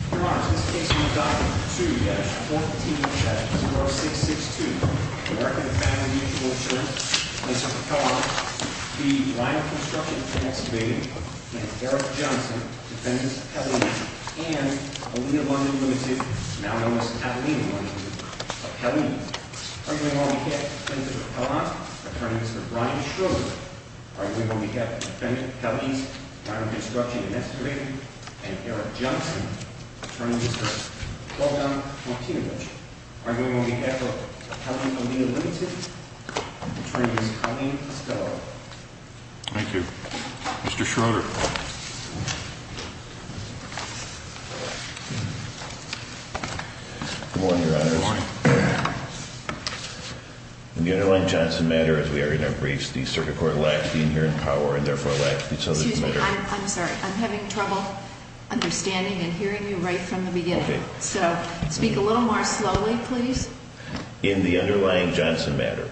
Your Honors, this case will be documented 2-14-4662, American Family Mutual Insurance v. Raquel Arndt, v. Rhino Construction & Excavating, and Eric Johnson, Defendant's Appellee, and Alia London, Ltd., now known as Kathleen London, Appellee. Arguing on behalf of Defendant Arndt, Attorney Mr. Brian Schroeder. Arguing on behalf of Defendant Pelley, Rhino Construction & Excavating, and Eric Johnson, Attorney Mr. Weldon Martinovich. Arguing on behalf of Appellee Alia London, Attorney Mr. Colleen Estello. Thank you. Mr. Schroeder. Good morning, Your Honors. Good morning. In the underlying Johnson matter, as we are in our briefs, the Circuit Court lacks the inherent power and therefore lacks the authority. Excuse me. I'm sorry. I'm having trouble understanding and hearing you right from the beginning. Okay. So speak a little more slowly, please. In the underlying Johnson matter,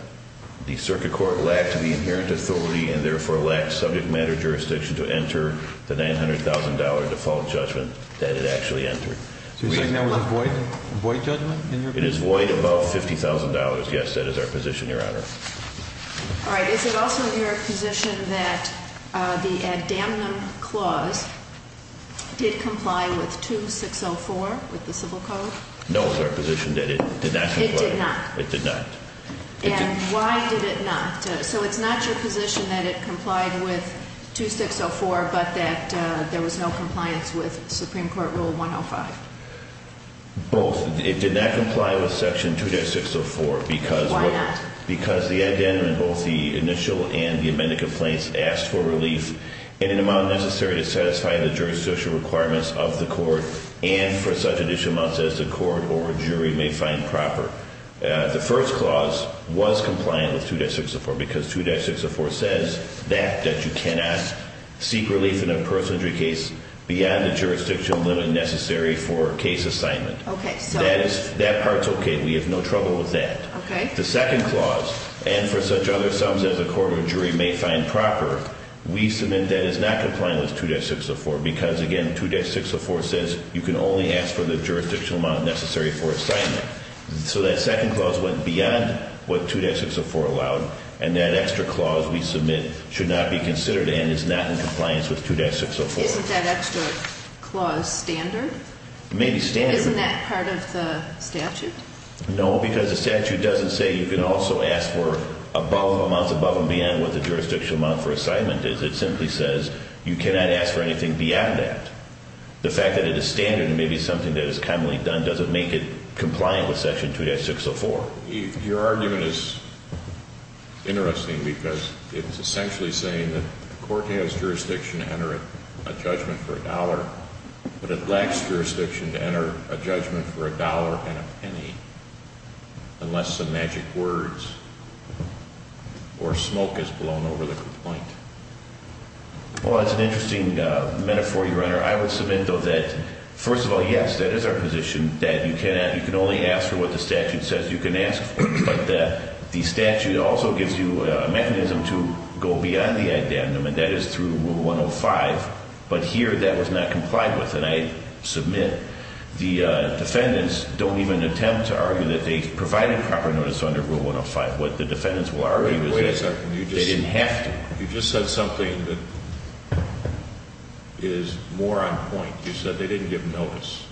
the Circuit Court lacked the inherent authority and therefore lacked subject matter jurisdiction to enter the $900,000 default judgment that it actually entered. So you're saying that was a void judgment in your opinion? It is void above $50,000. Yes, that is our position, Your Honor. All right. Is it also your position that the ad damnum clause did comply with 2604 with the Civil Code? No, it's our position that it did not comply. It did not? It did not. And why did it not? So it's not your position that it complied with 2604 but that there was no compliance with Supreme Court Rule 105? Both. It did not comply with Section 2-604. Why not? Because the ad damnum in both the initial and the amended complaints asked for relief in an amount necessary to satisfy the jurisdictional requirements of the court and for such additional amounts as the court or jury may find proper. The first clause was compliant with 2-604 because 2-604 says that you cannot seek relief in a personal injury case beyond the jurisdictional limit necessary for case assignment. That part's okay. We have no trouble with that. The second clause, and for such other sums as the court or jury may find proper, we submit that is not compliant with 2-604 because, again, 2-604 says you can only ask for the jurisdictional amount necessary for assignment. So that second clause went beyond what 2-604 allowed and that extra clause we submit should not be considered and is not in compliance with 2-604. Isn't that extra clause standard? It may be standard. Isn't that part of the statute? No, because the statute doesn't say you can also ask for above amounts above and beyond what the jurisdictional amount for assignment is. It simply says you cannot ask for anything beyond that. The fact that it is standard and maybe something that is commonly done doesn't make it compliant with Section 2-604. Your argument is interesting because it's essentially saying that the court has jurisdiction to enter a judgment for a dollar, but it lacks jurisdiction to enter a judgment for a dollar and a penny unless some magic words or smoke is blown over the complaint. Well, that's an interesting metaphor, Your Honor. I would submit, though, that first of all, yes, that is our position that you can only ask for what the statute says you can ask for, but the statute also gives you a mechanism to go beyond the addendum, and that is through Rule 105. But here that was not complied with, and I submit the defendants don't even attempt to argue that they provided proper notice under Rule 105. What the defendants will argue is that they didn't have to. And you just said something that is more on point. You said they didn't give notice.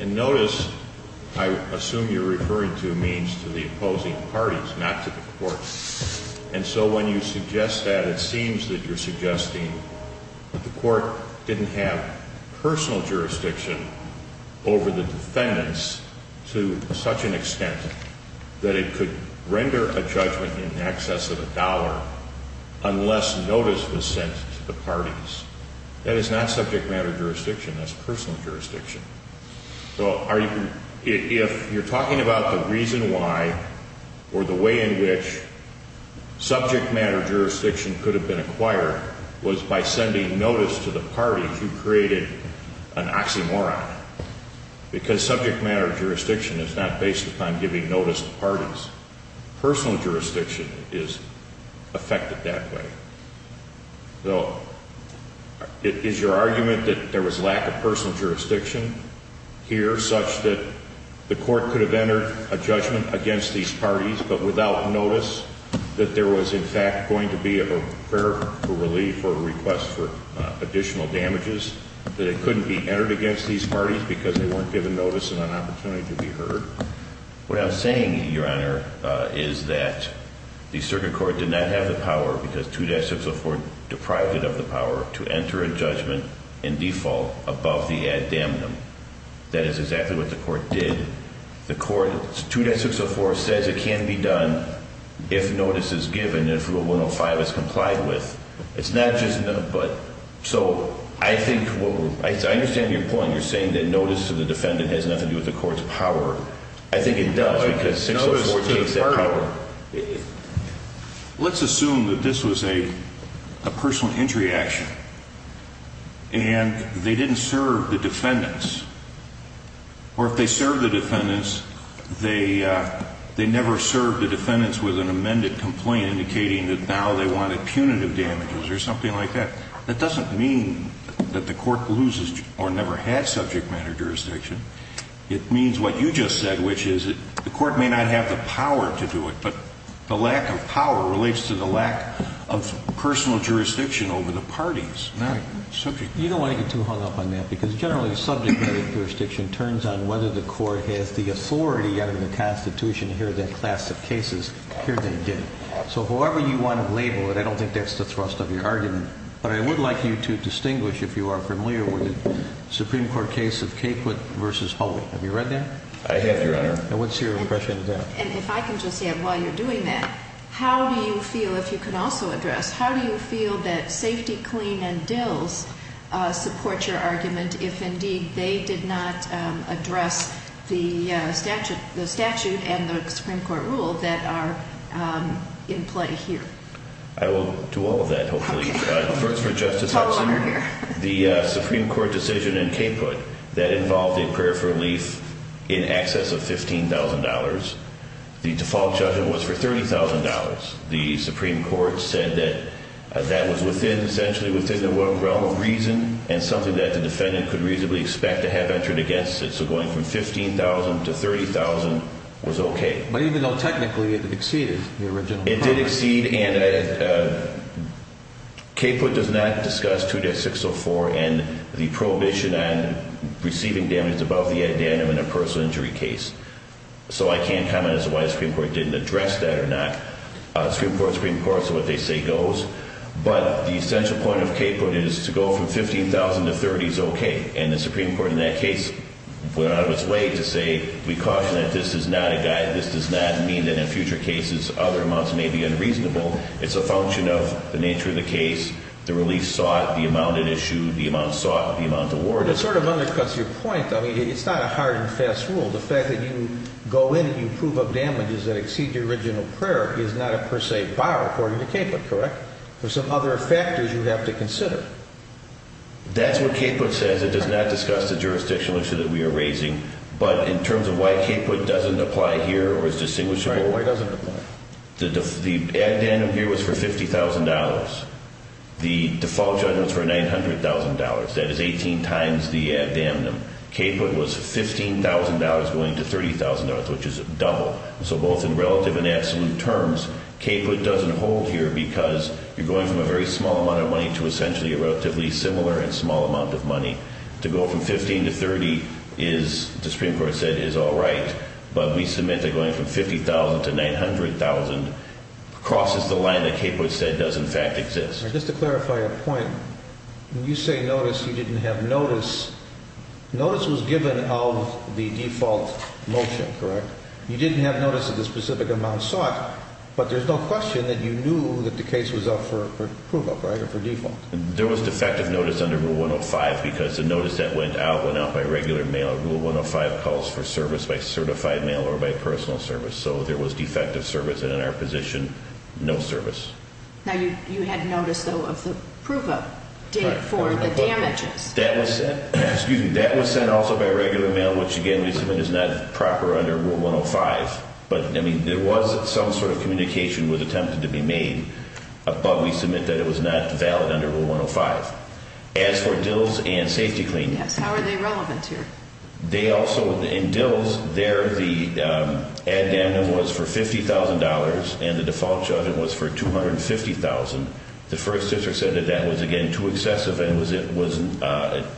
And notice, I assume you're referring to means to the opposing parties, not to the court. And so when you suggest that, it seems that you're suggesting that the court didn't have personal jurisdiction over the defendants to such an extent that it could render a judgment in excess of a dollar unless notice was sent to the parties. That is not subject matter jurisdiction. That's personal jurisdiction. So if you're talking about the reason why or the way in which subject matter jurisdiction could have been acquired was by sending notice to the parties, you created an oxymoron. Because subject matter jurisdiction is not based upon giving notice to parties. Personal jurisdiction is affected that way. So is your argument that there was lack of personal jurisdiction here such that the court could have entered a judgment against these parties but without notice, that there was in fact going to be a fair relief or a request for additional damages, that it couldn't be entered against these parties because they weren't given notice and an opportunity to be heard? What I'm saying, Your Honor, is that the circuit court did not have the power because 2-604 deprived it of the power to enter a judgment in default above the ad damnum. That is exactly what the court did. The court, 2-604 says it can be done if notice is given, if Rule 105 is complied with. It's not just, so I think, I understand your point. You're saying that notice to the defendant has nothing to do with the court's power. I think it does because 2-604 takes that power. Let's assume that this was a personal injury action and they didn't serve the defendants. Or if they served the defendants, they never served the defendants with an amended complaint indicating that now they wanted punitive damages or something like that. That doesn't mean that the court loses or never had subject matter jurisdiction. It means what you just said, which is that the court may not have the power to do it, but the lack of power relates to the lack of personal jurisdiction over the parties, not subject matter. You don't want to get too hung up on that because generally subject matter jurisdiction turns on whether the court has the authority under the Constitution to hear that class of cases. Here they did. So however you want to label it, I don't think that's the thrust of your argument. But I would like you to distinguish if you are familiar with the Supreme Court case of Caput v. Hulley. Have you read that? I have, Your Honor. And what's your impression of that? And if I can just add while you're doing that, how do you feel, if you can also address, how do you feel that Safety, Clean, and Dills support your argument if indeed they did not address the statute and the Supreme Court rule that are in play here? I will do all of that, hopefully. Okay. The Supreme Court decision in Caput that involved a prayer for relief in excess of $15,000, the default judgment was for $30,000. The Supreme Court said that that was essentially within the realm of reason and something that the defendant could reasonably expect to have entered against it. So going from $15,000 to $30,000 was okay. But even though technically it exceeded the original promise. It did exceed and Caput does not discuss 2-604 and the prohibition on receiving damage above the ad danum in a personal injury case. So I can't comment as to why the Supreme Court didn't address that or not. Supreme Court is what they say goes. But the essential point of Caput is to go from $15,000 to $30,000 is okay. And the Supreme Court in that case went out of its way to say we caution that this is not a guide. This does not mean that in future cases other amounts may be unreasonable. It's a function of the nature of the case, the relief sought, the amount issued, the amount sought, the amount awarded. It sort of undercuts your point. I mean, it's not a hard and fast rule. The fact that you go in and you prove of damages that exceed the original prayer is not a per se bar according to Caput, correct? There's some other factors you have to consider. That's what Caput says. It does not discuss the jurisdictional issue that we are raising. But in terms of why Caput doesn't apply here or is distinguishable, the ad danum here was for $50,000. The default judgment is for $900,000. That is 18 times the ad danum. Caput was $15,000 going to $30,000, which is double. So both in relative and absolute terms, Caput doesn't hold here because you're going from a very small amount of money to essentially a relatively similar and small amount of money. To go from $15,000 to $30,000 is, the Supreme Court said, is all right. But we submit that going from $50,000 to $900,000 crosses the line that Caput said does in fact exist. Just to clarify your point, when you say notice, you didn't have notice. Notice was given of the default motion, correct? You didn't have notice of the specific amount sought, but there's no question that you knew that the case was up for proof of, right, or for default. There was defective notice under Rule 105 because the notice that went out went out by regular mail. Rule 105 calls for service by certified mail or by personal service. So there was defective service, and in our position, no service. Now, you had notice, though, of the proof of for the damages. That was sent also by regular mail, which, again, we submit is not proper under Rule 105. But, I mean, there was some sort of communication that was attempted to be made, but we submit that it was not valid under Rule 105. As for dills and safety cleaning. Yes, how are they relevant here? They also, in dills, there the ad damnem was for $50,000, and the default judgment was for $250,000. The first district said that that was, again, too excessive and was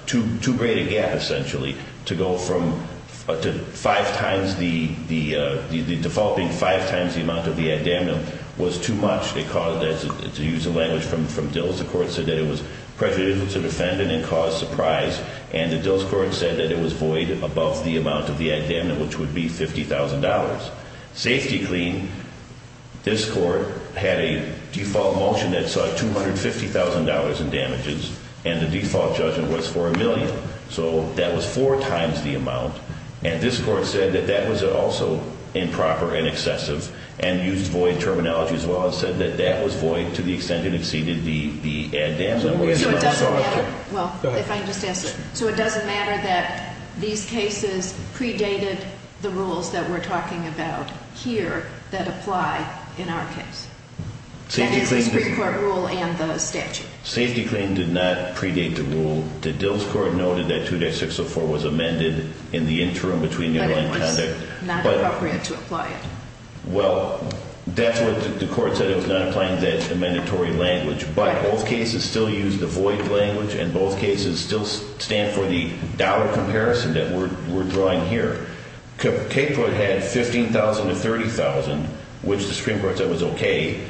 too great a gap, essentially, to go from five times the default being five times the amount of the ad damnem was too much. They called it, to use the language from dills, the court said that it was prejudicial to the defendant and caused surprise. And the dills court said that it was void above the amount of the ad damnem, which would be $50,000. Safety clean, this court had a default motion that saw $250,000 in damages, and the default judgment was for a million. So that was four times the amount, and this court said that that was also improper and excessive, and used void terminology as well and said that that was void to the extent it exceeded the ad damnem. So it doesn't matter that these cases predated the rules that we're talking about here that apply in our case? That is, the Supreme Court rule and the statute? Safety clean did not predate the rule. The dills court noted that 2-604 was amended in the interim between new law and conduct. But it was not appropriate to apply it? Well, that's what the court said. It was not applying that amendatory language. But both cases still used the void language, and both cases still stand for the dollar comparison that we're drawing here. Caput had $15,000 to $30,000, which the Supreme Court said was okay.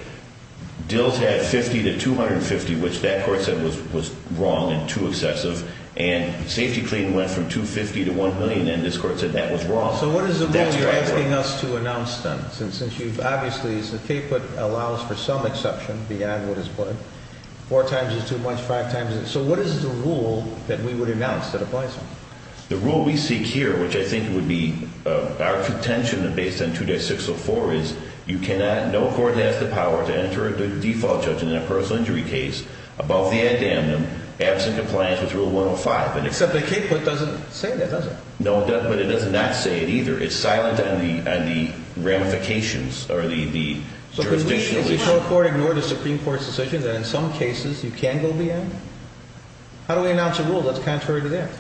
Dills had $50,000 to $250,000, which that court said was wrong and too excessive. And safety clean went from $250,000 to $1 million, and this court said that was wrong. So what is the rule you're asking us to announce then? Since you've obviously said Caput allows for some exception beyond what is put in. Four times is too much, five times is not. So what is the rule that we would announce that applies? The rule we seek here, which I think would be our pretension based on 2-604, is you cannot, no court has the power to enter a default judgment in a personal injury case above the ad damnum, absent compliance with Rule 105. Except that Caput doesn't say that, does it? No, but it does not say it either. It's silent on the ramifications or the jurisdictional issue. So can we as a federal court ignore the Supreme Court's decision that in some cases you can go beyond? How do we announce a rule that's contrary to that?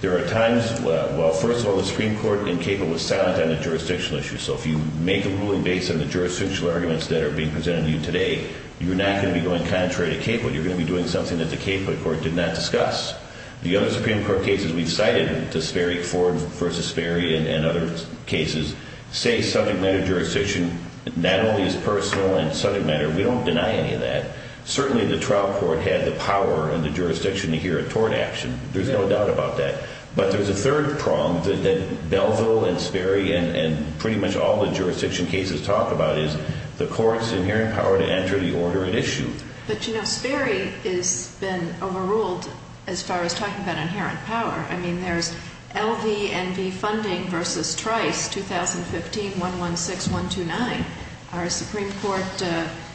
There are times, well, first of all, the Supreme Court in Caput was silent on the jurisdictional issue. So if you make a ruling based on the jurisdictional arguments that are being presented to you today, you're not going to be going contrary to Caput. You're going to be doing something that the Caput court did not discuss. The other Supreme Court cases we've cited to Sperry, Ford v. Sperry and other cases, say subject matter jurisdiction not only is personal and subject matter. We don't deny any of that. Certainly the trial court had the power in the jurisdiction to hear a tort action. There's no doubt about that. But there's a third prong that Belleville and Sperry and pretty much all the jurisdiction cases talk about is the court's inherent power to enter the order at issue. But, you know, Sperry has been overruled as far as talking about inherent power. I mean, there's LVNV funding v. Trice 2015-116-129. Our Supreme Court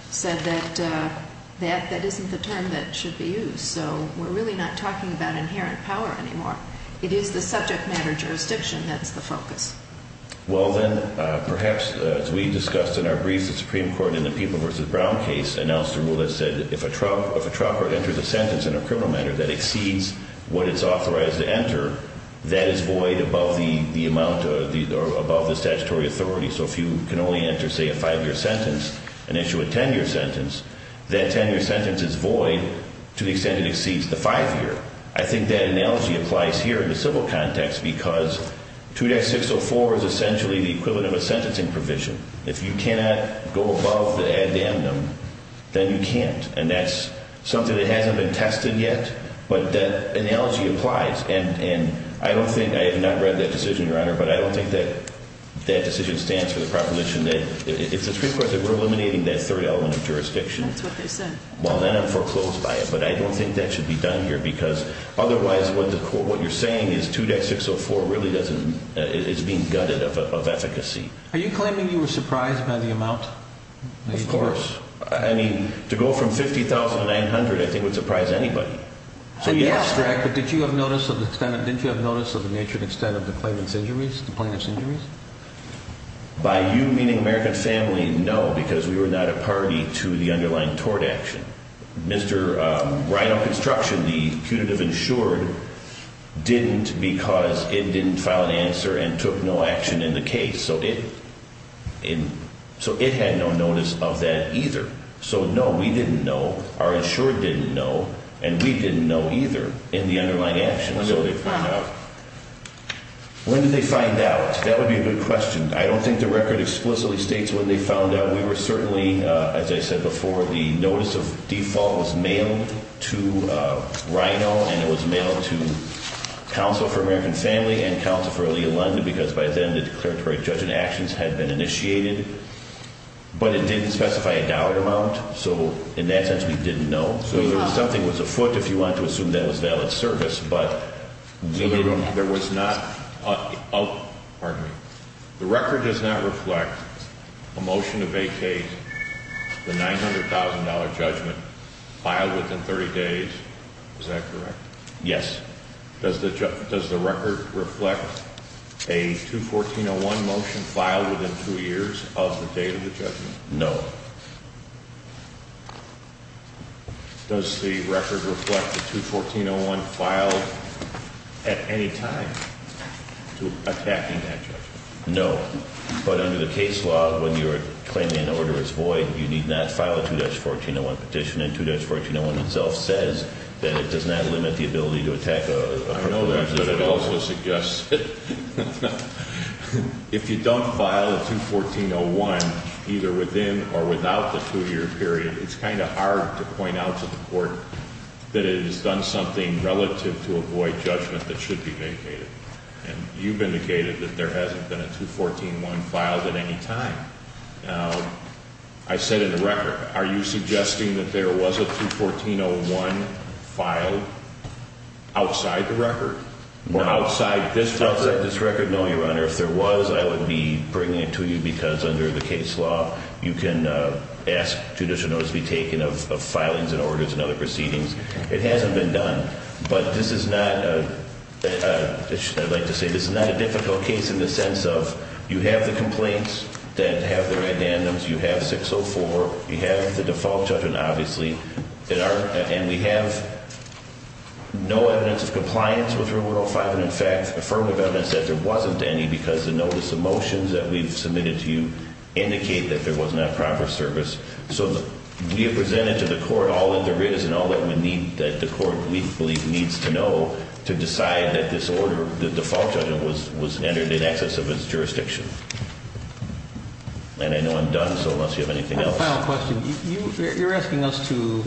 said that that isn't the term that should be used. So we're really not talking about inherent power anymore. It is the subject matter jurisdiction that's the focus. Well, then, perhaps as we discussed in our brief, the Supreme Court in the People v. Brown case announced a rule that said if a trial court enters a sentence in a criminal matter that exceeds what it's authorized to enter, that is void above the amount or above the statutory authority. So if you can only enter, say, a five-year sentence and issue a ten-year sentence, that ten-year sentence is void to the extent it exceeds the five-year. I think that analogy applies here in the civil context because 2-604 is essentially the equivalent of a sentencing provision. If you cannot go above the addendum, then you can't. And that's something that hasn't been tested yet, but that analogy applies. And I don't think, I have not read that decision, Your Honor, but I don't think that that decision stands for the proposition that if the Supreme Court said we're eliminating that third element of jurisdiction, well, then I'm foreclosed by it. But I don't think that should be done here because otherwise what you're saying is 2-604 really doesn't, it's being gutted of efficacy. Are you claiming you were surprised by the amount? Of course. I mean, to go from $50,900, I think, would surprise anybody. Yes, but did you have notice of the nature and extent of the plaintiff's injuries? By you meaning American Family, no, because we were not a party to the underlying tort action. Mr. Reinhold Construction, the punitive insured, didn't because it didn't file an answer and took no action in the case. So it had no notice of that either. So, no, we didn't know, our insured didn't know, and we didn't know either in the underlying action. When did they find out? When did they find out? That would be a good question. I don't think the record explicitly states when they found out. We were certainly, as I said before, the notice of default was mailed to Reinhold and it was mailed to counsel for American Family and counsel for Aliyah London because by then the declaratory judgment actions had been initiated. But it didn't specify a dollar amount, so in that sense we didn't know. So something was afoot if you want to assume that was valid service, but we didn't. Pardon me. The record does not reflect a motion to vacate the $900,000 judgment filed within 30 days. Is that correct? Yes. Does the record reflect a 214-01 motion filed within two years of the date of the judgment? No. Does the record reflect the 214-01 filed at any time to attacking that judgment? No. But under the case law, when you're claiming an order is void, you need not file a 214-01 petition, and 214-01 itself says that it does not limit the ability to attack a particular judgment. I know that, but it also suggests that if you don't file a 214-01 either within or without the two-year period, it's kind of hard to point out to the court that it has done something relative to a void judgment that should be vacated. And you've indicated that there hasn't been a 214-01 filed at any time. Now, I said in the record, are you suggesting that there was a 214-01 filed outside the record? Outside this record? No, Your Honor. If there was, I would be bringing it to you because under the case law, you can ask judicial notice to be taken of filings and orders and other proceedings. It hasn't been done. But this is not a difficult case in the sense of you have the complaints that have their addendums, you have 604, you have the default judgment, obviously, and we have no evidence of compliance with Rule 105 and, in fact, affirmative evidence that there wasn't any because the notice of motions that we've submitted to you indicate that there was not proper service. So we have presented to the court all that there is and all that the court, we believe, needs to know to decide that this order, the default judgment, was entered in excess of its jurisdiction. And I know I'm done, so unless you have anything else. My final question, you're asking us to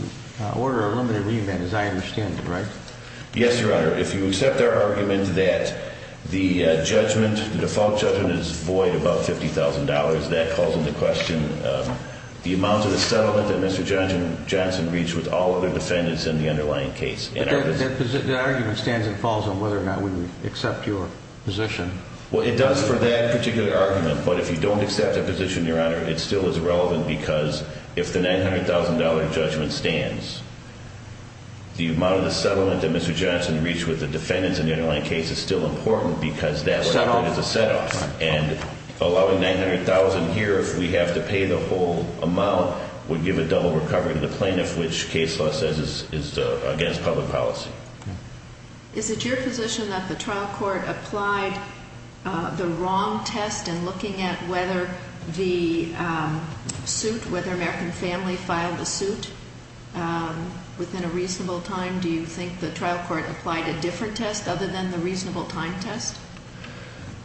order a limited remand, as I understand it, right? Yes, Your Honor. If you accept our argument that the judgment, the default judgment, is void above $50,000, that calls into question the amount of the settlement that Mr. Johnson reached with all other defendants in the underlying case. But that argument stands and falls on whether or not we accept your position. Well, it does for that particular argument. But if you don't accept that position, Your Honor, it still is relevant because if the $900,000 judgment stands, the amount of the settlement that Mr. Johnson reached with the defendants in the underlying case is still important because that was offered as a set-off. And allowing $900,000 here, if we have to pay the whole amount, would give a double recovery to the plaintiff, which case law says is against public policy. Is it your position that the trial court applied the wrong test in looking at whether the suit, whether American Family filed a suit within a reasonable time? Do you think the trial court applied a different test other than the reasonable time test?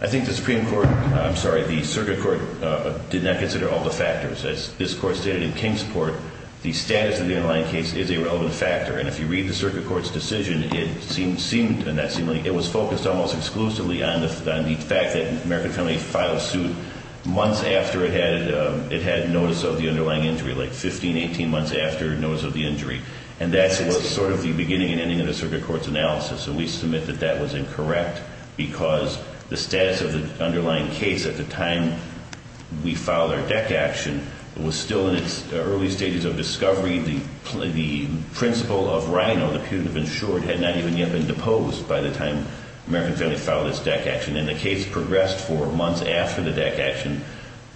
I think the Supreme Court, I'm sorry, the circuit court did not consider all the factors. As this court stated in King's court, the status of the underlying case is a relevant factor. And if you read the circuit court's decision, it seemed, and that seemed like, it was focused almost exclusively on the fact that American Family filed a suit months after it had notice of the underlying injury, like 15, 18 months after notice of the injury. And that's sort of the beginning and ending of the circuit court's analysis. And we submit that that was incorrect because the status of the underlying case at the time we filed our deck action was still in its early stages of discovery. The principle of RINO, the punitive insured, had not even yet been deposed by the time American Family filed its deck action. And the case progressed for months after the deck action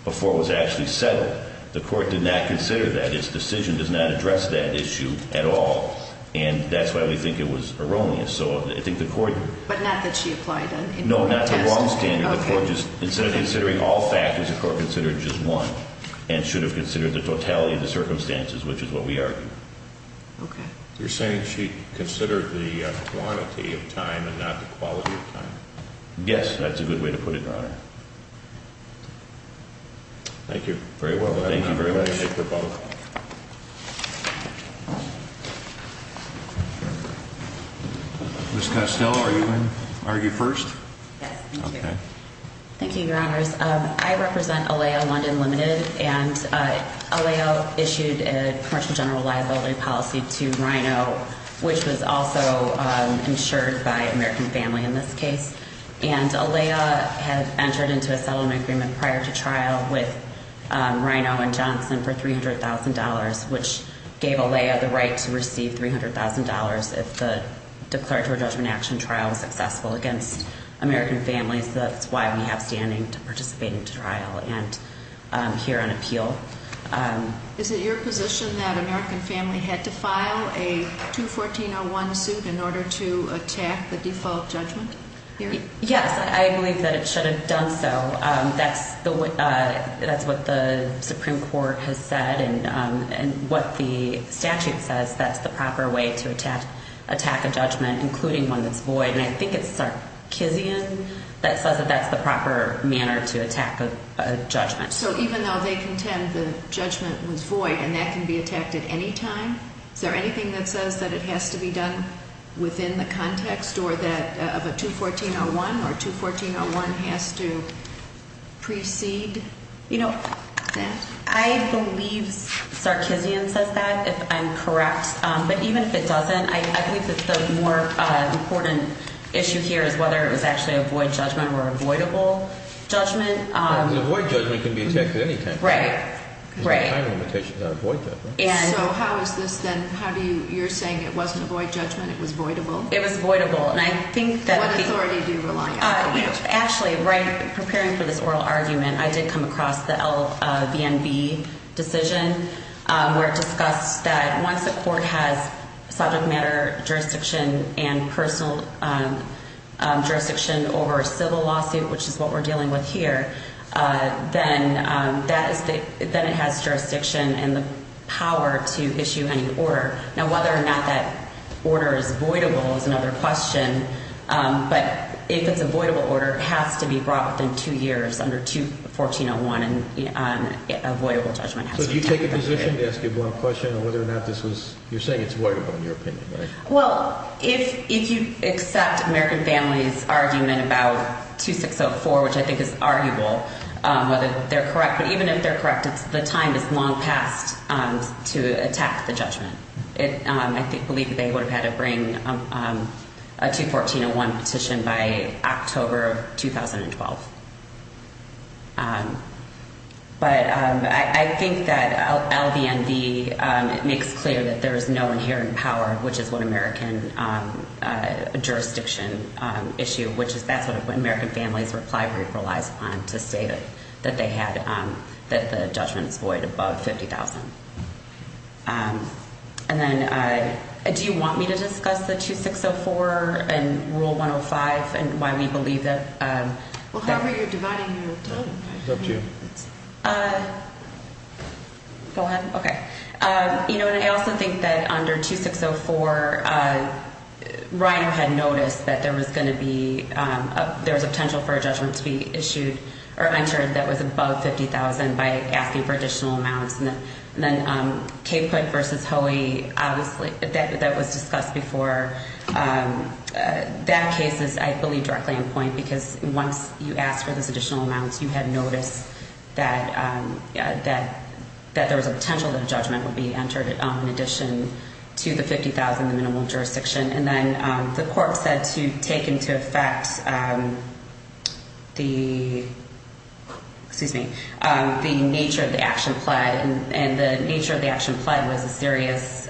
before it was actually settled. The court did not consider that. Its decision does not address that issue at all. And that's why we think it was erroneous. So I think the court... But not that she applied a different test? No, not the wrong standard. The court just, instead of considering all factors, the court considered just one and should have considered the totality of the circumstances, which is what we argue. Okay. You're saying she considered the quantity of time and not the quality of time? Yes, that's a good way to put it, Your Honor. Thank you very much. Ms. Costello, are you in? Are you first? Yes, thank you. Okay. Thank you, Your Honors. I represent ALEA London Limited. And ALEA issued a commercial general liability policy to RINO, which was also insured by American Family in this case. And ALEA had entered into a settlement agreement prior to trial with RINO and Johnson for $300,000, which gave ALEA the right to receive $300,000 if the declaratory judgment action trial was successful against American Families. That's why we have standing to participate in trial and hear an appeal. Is it your position that American Family had to file a 214-01 suit in order to attack the default judgment? Yes, I believe that it should have done so. That's what the Supreme Court has said. And what the statute says, that's the proper way to attack a judgment, including one that's void. And I think it's Sarkeesian that says that that's the proper manner to attack a judgment. So even though they contend the judgment was void and that can be attacked at any time, is there anything that says that it has to be done within the context of a 214-01 or 214-01 has to precede that? I believe Sarkeesian says that, if I'm correct. But even if it doesn't, I believe that the more important issue here is whether it was actually a void judgment or a voidable judgment. A void judgment can be attacked at any time. Right, right. There's no time limitation on a void judgment. So how is this then, how do you, you're saying it wasn't a void judgment, it was voidable? It was voidable. What authority do you rely on? Actually, right, preparing for this oral argument, I did come across the LVNB decision, where it discussed that once the court has subject matter jurisdiction and personal jurisdiction over a civil lawsuit, which is what we're dealing with here, then that is the, then it has jurisdiction and the power to issue any order. Now, whether or not that order is voidable is another question, but if it's a voidable order, it has to be brought within two years under 214-01, and a voidable judgment has to be taken. So do you take a position to ask a void question on whether or not this was, you're saying it's voidable in your opinion, right? Well, if you accept American Families' argument about 2604, which I think is arguable, whether they're correct, but even if they're correct, the time is long past to attack the judgment. I believe they would have had to bring a 214-01 petition by October of 2012. But I think that LVNB, it makes clear that there is no inherent power, which is what American jurisdiction issue, which is that's what American Families' reply brief relies upon to say that they had, that the judgment is void above 50,000. And then do you want me to discuss the 2604 and Rule 105 and why we believe that? Well, however you're dividing your time. Go ahead. Okay. You know, and I also think that under 2604, RINO had noticed that there was going to be, there was a potential for a judgment to be issued or entered that was above 50,000 by asking for additional amounts. And then Cape Point v. Hoey, obviously, that was discussed before. That case is, I believe, directly in point because once you ask for those additional amounts, you had noticed that there was a potential that a judgment would be entered in addition to the 50,000, the minimal jurisdiction. And then the court said to take into effect the, excuse me, the nature of the action pled, and the nature of the action pled was a serious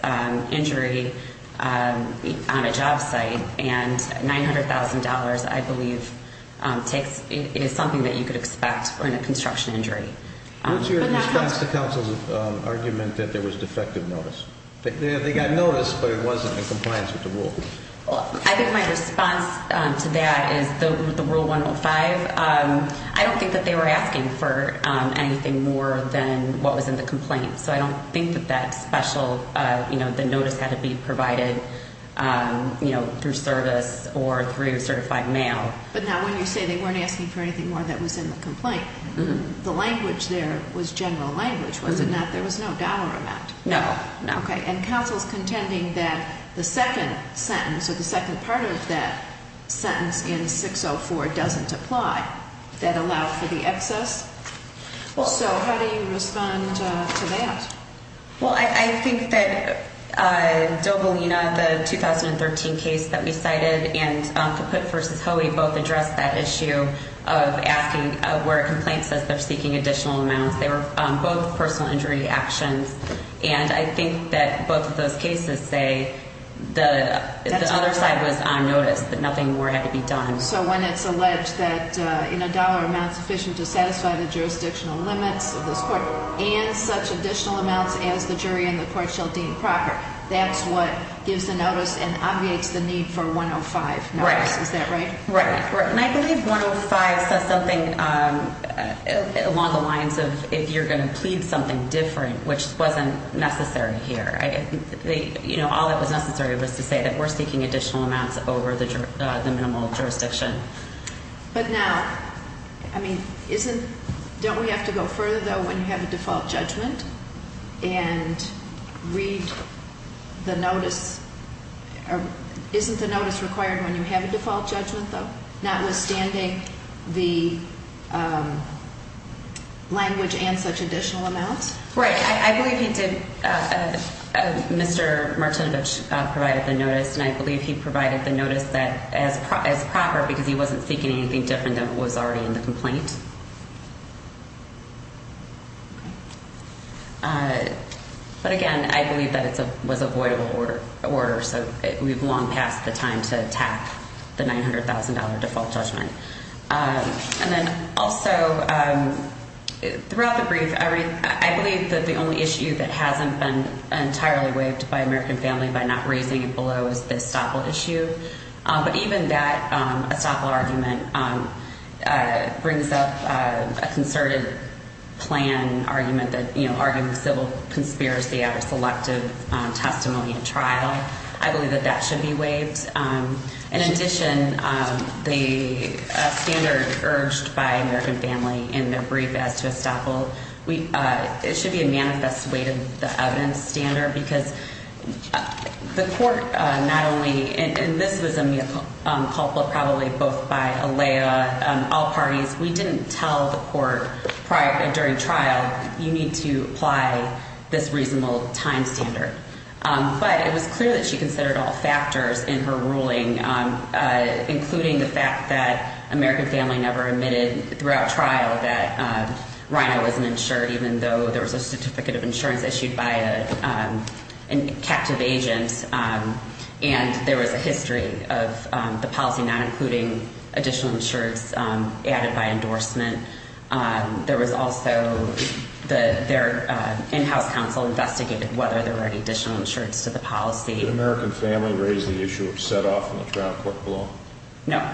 injury on a job site. And $900,000, I believe, takes, is something that you could expect in a construction injury. What's your response to counsel's argument that there was defective notice? They got notice, but it wasn't in compliance with the rule. Well, I think my response to that is the Rule 105, I don't think that they were asking for anything more than what was in the complaint. So I don't think that that special, you know, the notice had to be provided, you know, through service or through certified mail. But now when you say they weren't asking for anything more than what was in the complaint, the language there was general language, was it not? There was no dollar amount. No. Okay. And counsel's contending that the second sentence or the second part of that sentence in 604 doesn't apply. That allowed for the excess? So how do you respond to that? Well, I think that Dobalina, the 2013 case that we cited, and Caput v. Hoey both addressed that issue of asking where a complaint says they're seeking additional amounts. They were both personal injury actions. And I think that both of those cases say the other side was on notice, that nothing more had to be done. So when it's alleged that in a dollar amount sufficient to satisfy the jurisdictional limits of this court and such additional amounts as the jury in the court shall deem proper, that's what gives the notice and obviates the need for 105 notice, is that right? Right. And I believe 105 says something along the lines of if you're going to plead something different, which wasn't necessary here. All that was necessary was to say that we're seeking additional amounts over the minimal jurisdiction. But now, I mean, don't we have to go further, though, when you have a default judgment and read the notice? Isn't the notice required when you have a default judgment, though, notwithstanding the language and such additional amounts? Right. I believe he did. Mr. Martinovich provided the notice, and I believe he provided the notice as proper because he wasn't seeking anything different than what was already in the complaint. But, again, I believe that it was a voidable order, so we've long passed the time to tap the $900,000 default judgment. And then also, throughout the brief, I believe that the only issue that hasn't been entirely waived by American Family by not raising it below is the estoppel issue. But even that estoppel argument brings up a concerted plan argument that, you know, arguing civil conspiracy out of selective testimony and trial. I believe that that should be waived. In addition, the standard urged by American Family in their brief as to estoppel, it should be a manifest way to the evidence standard because the court not only – and this was a mea culpa probably both by Alea, all parties. We didn't tell the court during trial, you need to apply this reasonable time standard. But it was clear that she considered all factors in her ruling, including the fact that American Family never admitted throughout trial that Reina wasn't insured, even though there was a certificate of insurance issued by a captive agent, and there was a history of the policy not including additional insurance added by endorsement. There was also – their in-house counsel investigated whether there were any additional insurance to the policy. Did American Family raise the issue of set-off in the trial court below? No.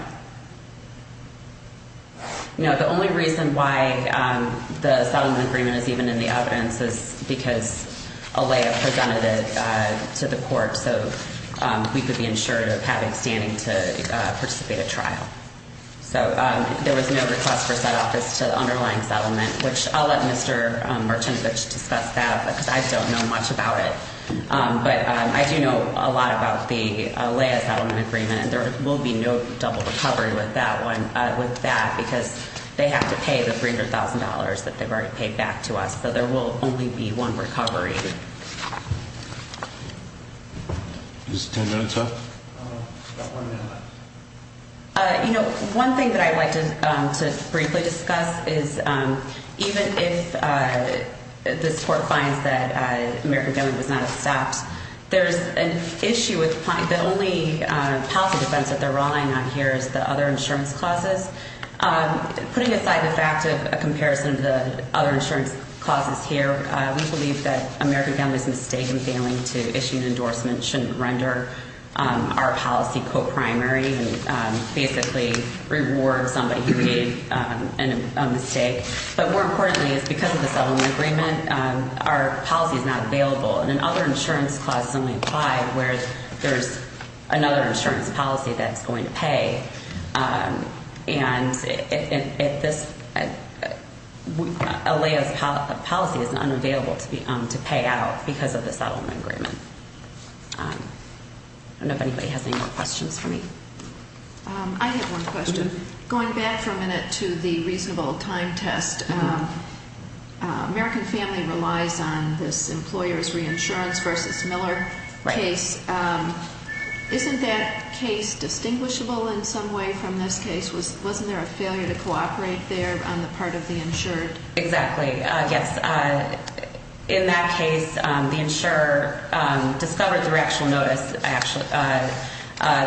No, the only reason why the settlement agreement is even in the evidence is because Alea presented it to the court so we could be insured of having standing to participate at trial. So there was no request for set-off as to the underlying settlement, which I'll let Mr. Martinovich discuss that because I don't know much about it. But I do know a lot about the Alea settlement agreement. There will be no double recovery with that one – with that because they have to pay the $300,000 that they've already paid back to us. So there will only be one recovery. Is 10 minutes up? We've got one minute left. You know, one thing that I'd like to briefly discuss is even if this court finds that American Family was not accepted, there's an issue with – the only policy defense that they're relying on here is the other insurance clauses. Putting aside the fact of a comparison of the other insurance clauses here, we believe that American Family's mistake in failing to issue an endorsement shouldn't render our policy co-primary and basically reward somebody who made a mistake. But more importantly is because of the settlement agreement, our policy is not available. And then other insurance clauses only apply where there's another insurance policy that's going to pay. And if this – Alea's policy is unavailable to pay out because of the settlement agreement. I don't know if anybody has any more questions for me. I have one question. Going back for a minute to the reasonable time test, American Family relies on this employer's reinsurance versus Miller case. Isn't that case distinguishable in some way from this case? Wasn't there a failure to cooperate there on the part of the insured? Exactly. Yes. In that case, the insurer discovered through actual notice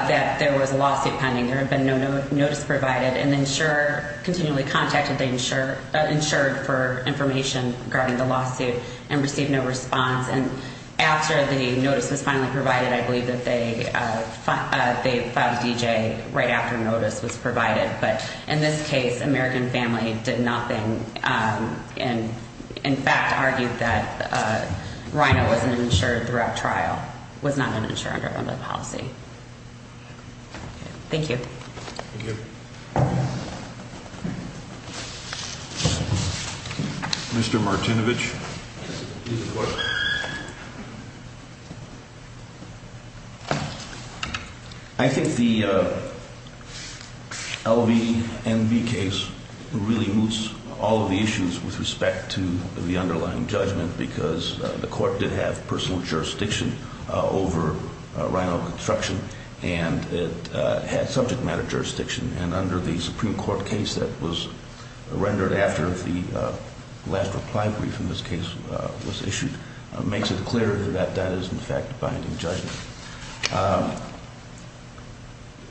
that there was a lawsuit pending. There had been no notice provided. And the insurer continually contacted the insured for information regarding the lawsuit and received no response. And after the notice was finally provided, I believe that they filed a DJ right after notice was provided. But in this case, American Family did nothing and in fact argued that Rhino was an insured throughout trial, was not an insured under the policy. Thank you. Thank you. Mr. Martinovich. Please report. I think the LVNB case really moves all of the issues with respect to the underlying judgment because the court did have personal jurisdiction over Rhino construction. And it had subject matter jurisdiction. And under the Supreme Court case that was rendered after the last reply brief in this case was issued, it makes it clear that that is in fact binding judgment.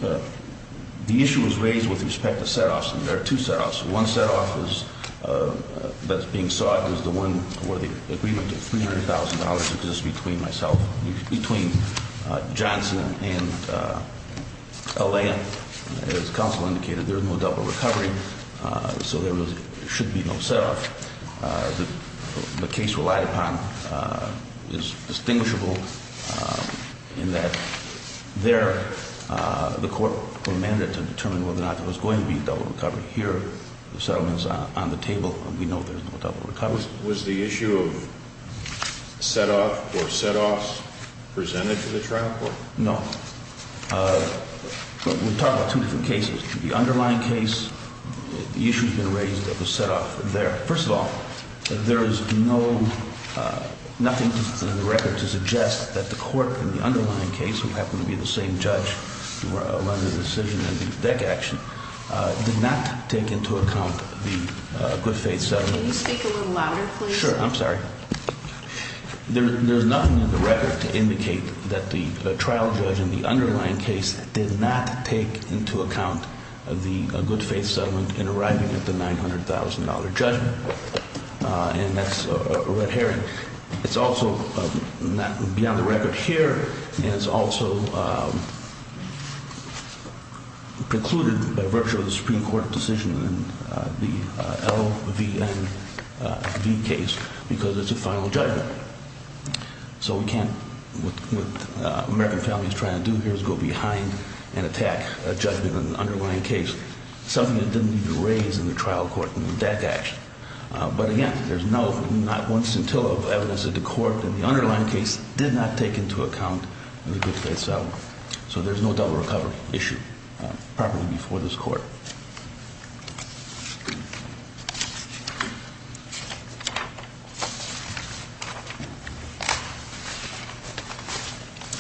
The issue was raised with respect to set-offs. And there are two set-offs. One set-off that's being sought is the one where the agreement of $300,000 exists between Johnson and LLM. As counsel indicated, there is no double recovery, so there should be no set-off. The case relied upon is distinguishable in that there the court were mandated to determine whether or not there was going to be a double recovery. Here, the settlement's on the table. We know there's no double recovery. Was the issue of set-off or set-offs presented to the trial court? No. We're talking about two different cases. The underlying case, the issue's been raised that was set-off there. First of all, there is nothing in the record to suggest that the court in the underlying case, who happened to be the same judge who rendered the decision in the DEC action, did not take into account the good faith settlement. Can you speak a little louder, please? Sure. I'm sorry. There's nothing in the record to indicate that the trial judge in the underlying case did not take into account the good faith settlement in arriving at the $900,000 judgment, and that's a red herring. It's also beyond the record here, and it's also precluded by virtue of the Supreme Court decision in the LVNV case because it's a final judgment. So we can't, what the American family's trying to do here is go behind and attack a judgment in the underlying case, something that didn't need to be raised in the trial court in the DEC action. But again, there's not one scintilla of evidence that the court in the underlying case did not take into account the good faith settlement. So there's no double recovery issue properly before this court.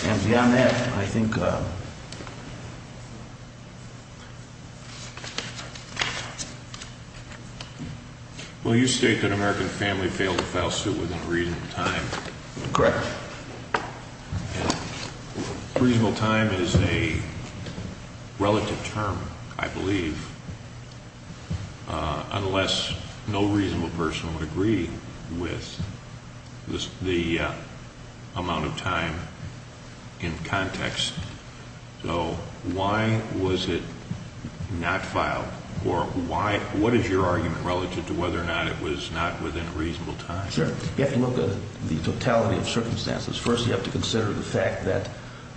And beyond that, I think... Will you state that American family failed to file suit within reasonable time? Correct. Reasonable time is a relative term, I believe, unless no reasonable person would agree with the amount of time in context. So why was it not filed, or what is your argument relative to whether or not it was not within reasonable time? Sure. You have to look at the totality of circumstances. First, you have to consider the fact that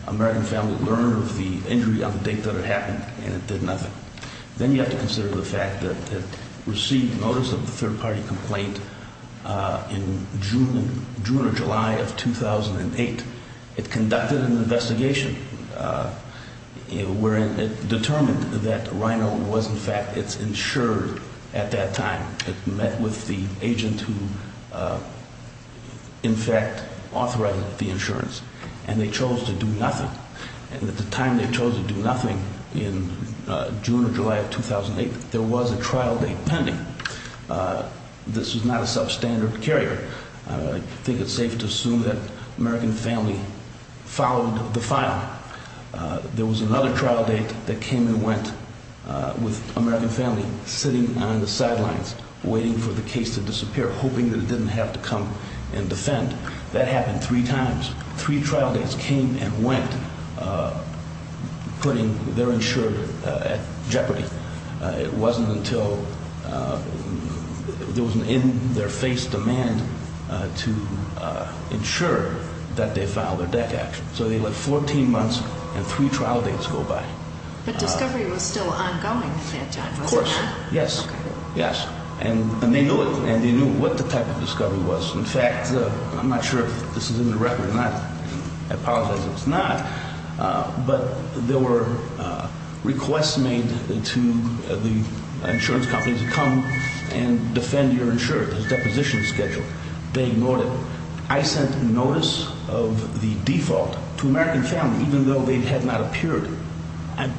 American family learned of the injury on the date that it happened, and it did nothing. Then you have to consider the fact that it received notice of the third-party complaint in June or July of 2008. It conducted an investigation wherein it determined that Rhino was, in fact, insured at that time. It met with the agent who, in fact, authorized the insurance, and they chose to do nothing. And at the time they chose to do nothing in June or July of 2008, there was a trial date pending. This was not a substandard carrier. I think it's safe to assume that American family followed the file. There was another trial date that came and went with American family sitting on the sidelines, waiting for the case to disappear, hoping that it didn't have to come and defend. That happened three times. Three trial dates came and went, putting their insurer at jeopardy. It wasn't until there was an in-their-face demand to ensure that they filed a DEC action. So they lived 14 months, and three trial dates go by. But discovery was still ongoing at that time, wasn't it? Of course. Yes. Yes. And they knew it, and they knew what the type of discovery was. In fact, I'm not sure if this is in the record or not. I apologize if it's not. But there were requests made to the insurance companies to come and defend your insurer, this deposition schedule. They ignored it. I sent notice of the default to American family, even though they had not appeared.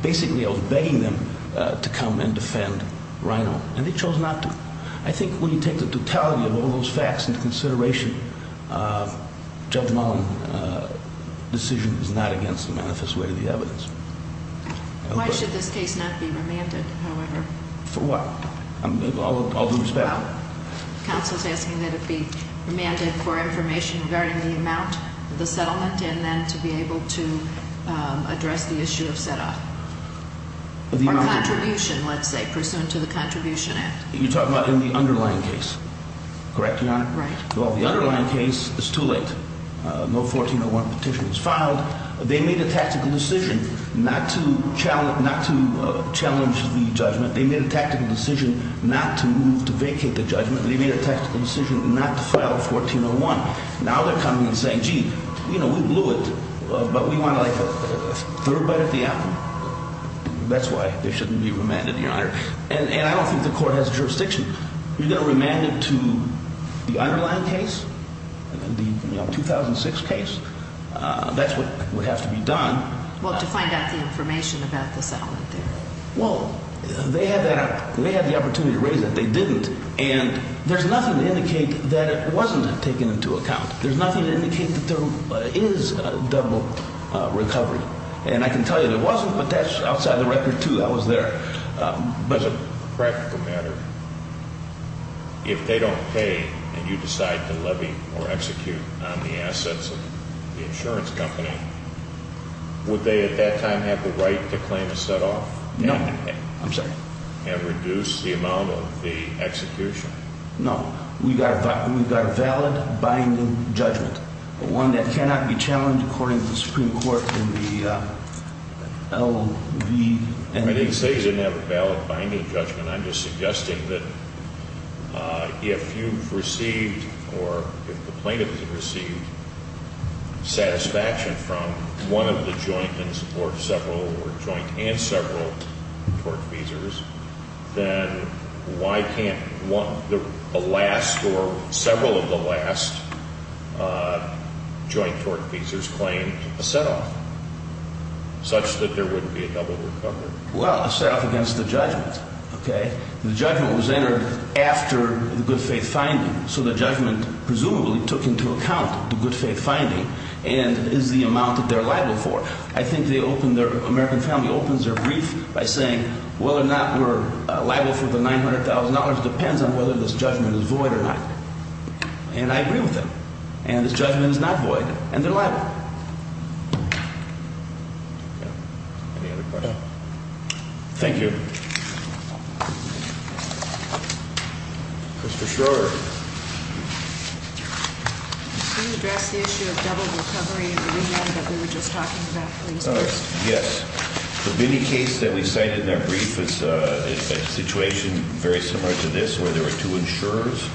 Basically, I was begging them to come and defend RINO, and they chose not to. I think when you take the totality of all those facts into consideration, Judge Mullen's decision is not against the manifest way of the evidence. Why should this case not be remanded, however? For what? I'll do this back. Counsel is asking that it be remanded for information regarding the amount of the settlement and then to be able to address the issue of set-off. Or contribution, let's say, pursuant to the Contribution Act. You're talking about in the underlying case, correct, Your Honor? Right. Well, the underlying case is too late. No 1401 petition was filed. They made a tactical decision not to challenge the judgment. They made a tactical decision not to move to vacate the judgment. They made a tactical decision not to file 1401. Now they're coming and saying, gee, we blew it, but we want a third bite at the apple. That's why it shouldn't be remanded, Your Honor. And I don't think the court has jurisdiction. You're going to remand it to the underlying case, the 2006 case? That's what would have to be done. Well, to find out the information about the settlement there. Well, they had the opportunity to raise it. They didn't. And there's nothing to indicate that it wasn't taken into account. There's nothing to indicate that there is a double recovery. And I can tell you it wasn't, but that's outside the record, too. That was there. But as a practical matter, if they don't pay and you decide to levy or execute on the assets of the insurance company, would they at that time have the right to claim a set-off? No. I'm sorry. And reduce the amount of the execution? No. We've got a valid binding judgment, but one that cannot be challenged according to the Supreme Court in the L.V. I didn't say you didn't have a valid binding judgment. And I'm just suggesting that if you've received or if the plaintiff has received satisfaction from one of the joint or several joint and several tortfeasors, then why can't a last or several of the last joint tortfeasors claim a set-off, such that there wouldn't be a double recovery? Well, a set-off against the judgment. Okay? The judgment was entered after the good-faith finding, so the judgment presumably took into account the good-faith finding and is the amount that they're liable for. I think the American family opens their brief by saying whether or not we're liable for the $900,000 depends on whether this judgment is void or not. And I agree with them. And this judgment is not void, and they're liable. Any other questions? No. Thank you. Mr. Schroeder. Can you address the issue of double recovery in the region that we were just talking about, please? Yes. The Bini case that we cited in that brief is a situation very similar to this, where there were two insurers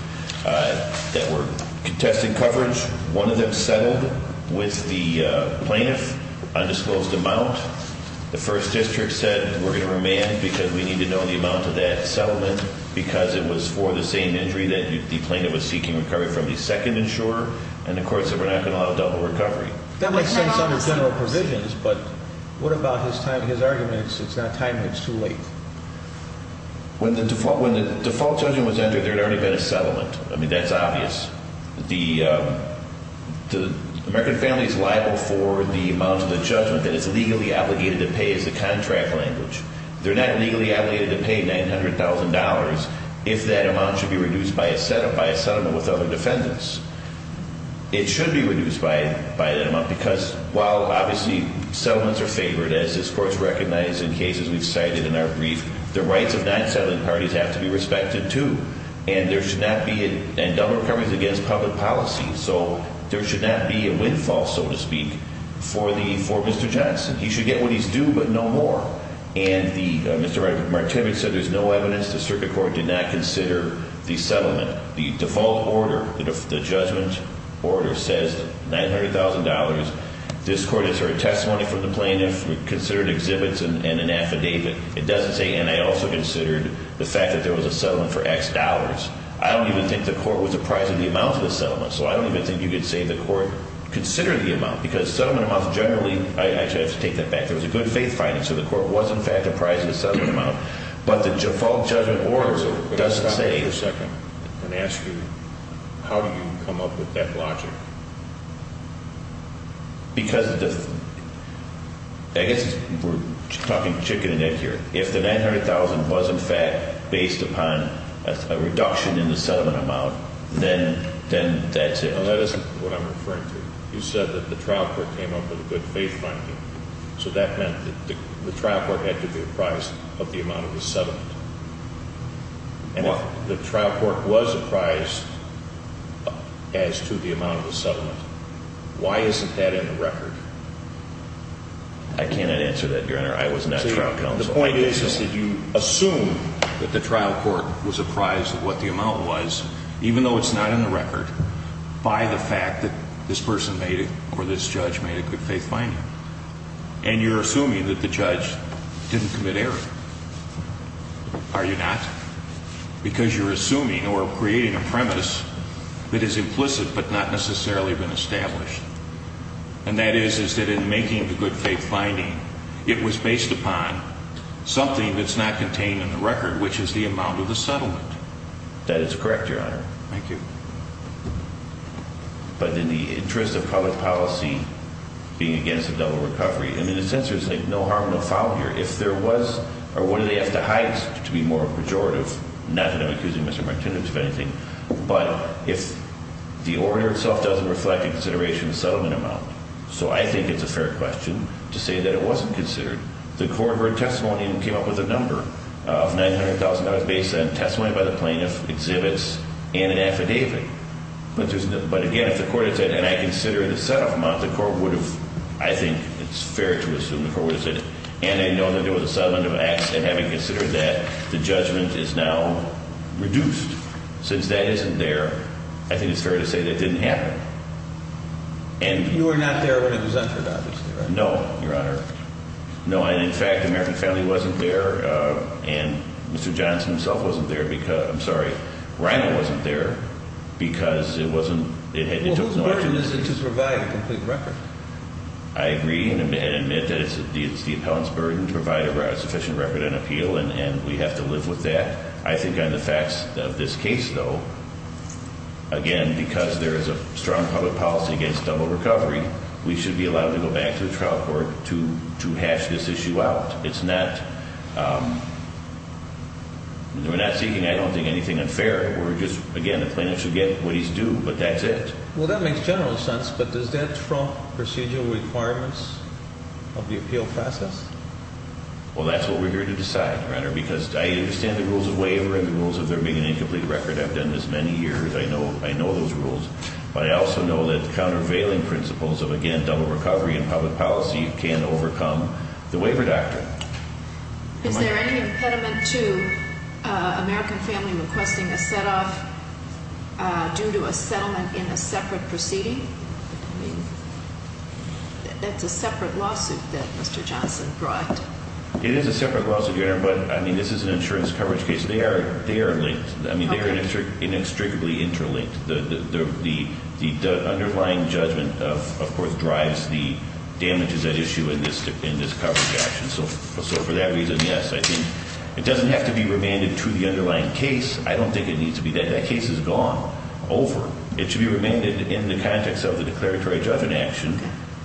that were contesting coverage. One of them settled with the plaintiff, undisclosed amount. The first district said, we're going to remand because we need to know the amount of that settlement, because it was for the same injury that the plaintiff was seeking recovery from the second insurer, and the court said we're not going to allow double recovery. That makes sense under general provisions, but what about his arguments, it's not time, it's too late? When the default judgment was entered, there had already been a settlement. I mean, that's obvious. The American family is liable for the amount of the judgment that is legally obligated to pay as the contract language. They're not legally obligated to pay $900,000 if that amount should be reduced by a settlement with other defendants. It should be reduced by that amount, because while obviously settlements are favored, as this court has recognized in cases we've cited in our brief, the rights of non-settling parties have to be respected, too. And there should not be a double recovery against public policy. So there should not be a windfall, so to speak, for Mr. Johnson. He should get what he's due, but no more. And Mr. Martinez said there's no evidence. The circuit court did not consider the settlement. The default order, the judgment order, says $900,000. This court has heard testimony from the plaintiff, considered exhibits and an affidavit. It doesn't say, and I also considered the fact that there was a settlement for X dollars. I don't even think the court was apprised of the amount of the settlement, so I don't even think you could say the court considered the amount, because settlement amounts generally, I actually have to take that back, there was a good faith finding, so the court was in fact apprised of the settlement amount. But the default judgment order doesn't say. If the 900,000 was in fact based upon a reduction in the settlement amount, then that's it. That isn't what I'm referring to. You said that the trial court came up with a good faith finding, so that meant that the trial court had to be apprised of the amount of the settlement. And if the trial court was apprised as to the amount of the settlement, why isn't that in the record? I cannot answer that, Your Honor. I was not trial counsel. The point is that you assume that the trial court was apprised of what the amount was, even though it's not in the record, by the fact that this person made it, or this judge made a good faith finding. And you're assuming that the judge didn't commit error. Are you not? Because you're assuming or creating a premise that is implicit but not necessarily been established. And that is that in making the good faith finding, it was based upon something that's not contained in the record, which is the amount of the settlement. That is correct, Your Honor. Thank you. But in the interest of public policy, being against a double recovery, I mean, the censors say no harm, no foul here. If there was, or what do they have to hide to be more pejorative? Not that I'm accusing Mr. Martinez of anything. But if the order itself doesn't reflect a consideration of the settlement amount, so I think it's a fair question to say that it wasn't considered. The court heard testimony and came up with a number of $900,000 based on testimony by the plaintiff, exhibits, and an affidavit. But again, if the court had said, and I consider the set-off amount, the court would have, I think, it's fair to assume the court would have said, and I know that there was a settlement of acts, and having considered that, the judgment is now reduced. Since that isn't there, I think it's fair to say that didn't happen. You were not there when it was entered, obviously, right? No, Your Honor. No, and in fact, American Family wasn't there, and Mr. Johnson himself wasn't there because, I'm sorry, Reino wasn't there because it wasn't, it took no action. Well, whose burden is it to provide a complete record? I agree and admit that it's the appellant's burden to provide a sufficient record and appeal, and we have to live with that. I think on the facts of this case, though, again, because there is a strong public policy against double recovery, we should be allowed to go back to the trial court to hash this issue out. It's not, we're not seeking, I don't think, anything unfair. We're just, again, the plaintiff should get what he's due, but that's it. Well, that makes general sense, but does that trump procedural requirements of the appeal process? Well, that's what we're here to decide, Your Honor, because I understand the rules of waiver and the rules of there being an incomplete record. I've done this many years. I know those rules, but I also know that the countervailing principles of, again, double recovery and public policy can overcome the waiver doctrine. Is there any impediment to American Family requesting a set-off due to a settlement in a separate proceeding? I mean, that's a separate lawsuit that Mr. Johnson brought. It is a separate lawsuit, Your Honor, but, I mean, this is an insurance coverage case. They are linked. I mean, they are inextricably interlinked. The underlying judgment, of course, drives the damages at issue in this coverage action. So for that reason, yes, I think it doesn't have to be remanded to the underlying case. I don't think it needs to be. That case is gone, over. It should be remanded in the context of the declaratory judgment action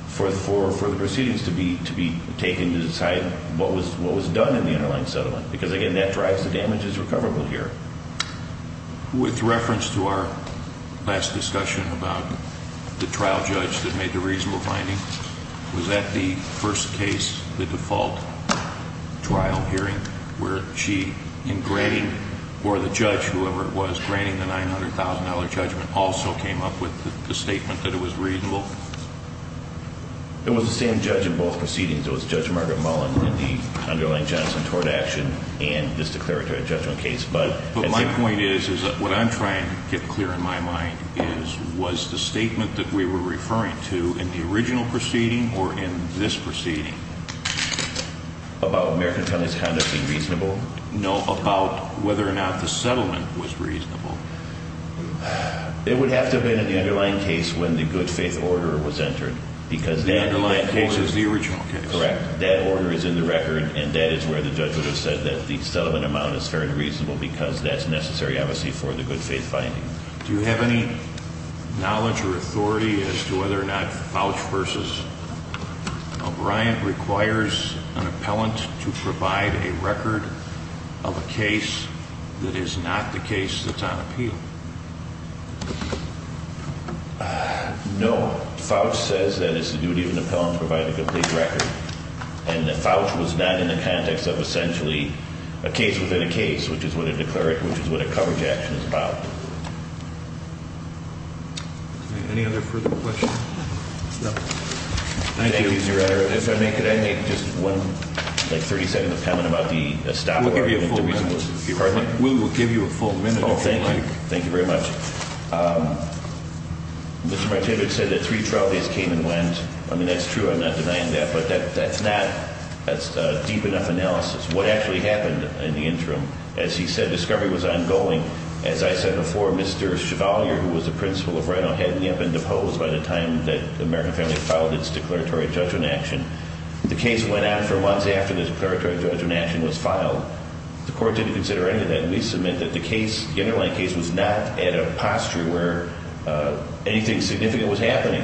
for the proceedings to be taken to decide what was done in the underlying settlement because, again, that drives the damages recoverable here. With reference to our last discussion about the trial judge that made the reasonable finding, was that the first case, the default trial hearing, where she, in granting, or the judge, whoever it was, granting the $900,000 judgment, also came up with the statement that it was reasonable? It was the same judge in both proceedings. It was Judge Margaret Mullen in the underlying Johnson tort action and this declaratory judgment case. But my point is that what I'm trying to get clear in my mind is, was the statement that we were referring to in the original proceeding or in this proceeding? About American Families Conduct being reasonable? No, about whether or not the settlement was reasonable. It would have to have been in the underlying case when the good faith order was entered because that order. The underlying case is the original case. Correct. That order is in the record and that is where the judge would have said that the settlement amount is fairly reasonable because that's necessary, obviously, for the good faith finding. Do you have any knowledge or authority as to whether or not Fauch v. O'Brien requires an appellant to provide a record of a case that is not the case that's on appeal? No. Fauch says that it's the duty of an appellant to provide a complete record. And Fauch was not in the context of essentially a case within a case, which is what a declaratory, which is what a coverage action is about. Any other further questions? No. Thank you. Thank you, Your Honor. If I may, could I make just one, like, 30-second comment about the staff order? We'll give you a full minute. Pardon me? We will give you a full minute. Thank you. Thank you very much. Mr. Martinder said that three trial days came and went. I mean, that's true. I'm not denying that. But that's not a deep enough analysis. What actually happened in the interim? As he said, discovery was ongoing. As I said before, Mr. Chevalier, who was the principal of RINO, had me up and deposed by the time that the American family filed its declaratory judgment action. The case went on for months after this declaratory judgment action was filed. The court didn't consider any of that. And we submit that the case, the underlying case, was not at a posture where anything significant was happening.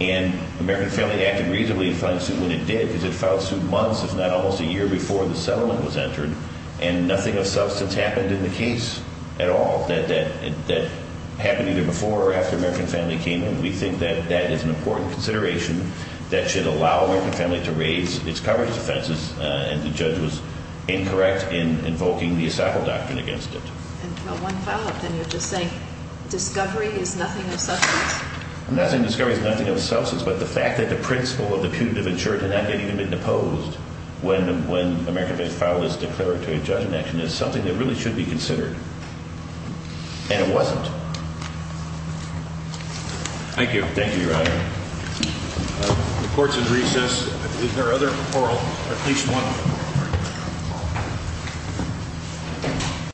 And the American family acted reasonably to find suit when it did, because it filed suit months, if not almost a year, before the settlement was entered. And nothing of substance happened in the case at all that happened either before or after the American family came in. We think that that is an important consideration that should allow the American family to raise its coverage offenses. And the judge was incorrect in invoking the asylum doctrine against it. And no one followed. Then you're just saying discovery is nothing of substance? Not that discovery is nothing of substance, but the fact that the principal of the putative insurance had not even been deposed when the American family filed its declaratory judgment action is something that really should be considered. And it wasn't. Thank you. Thank you, Your Honor. The court's in recess. Is there other referral? At least one.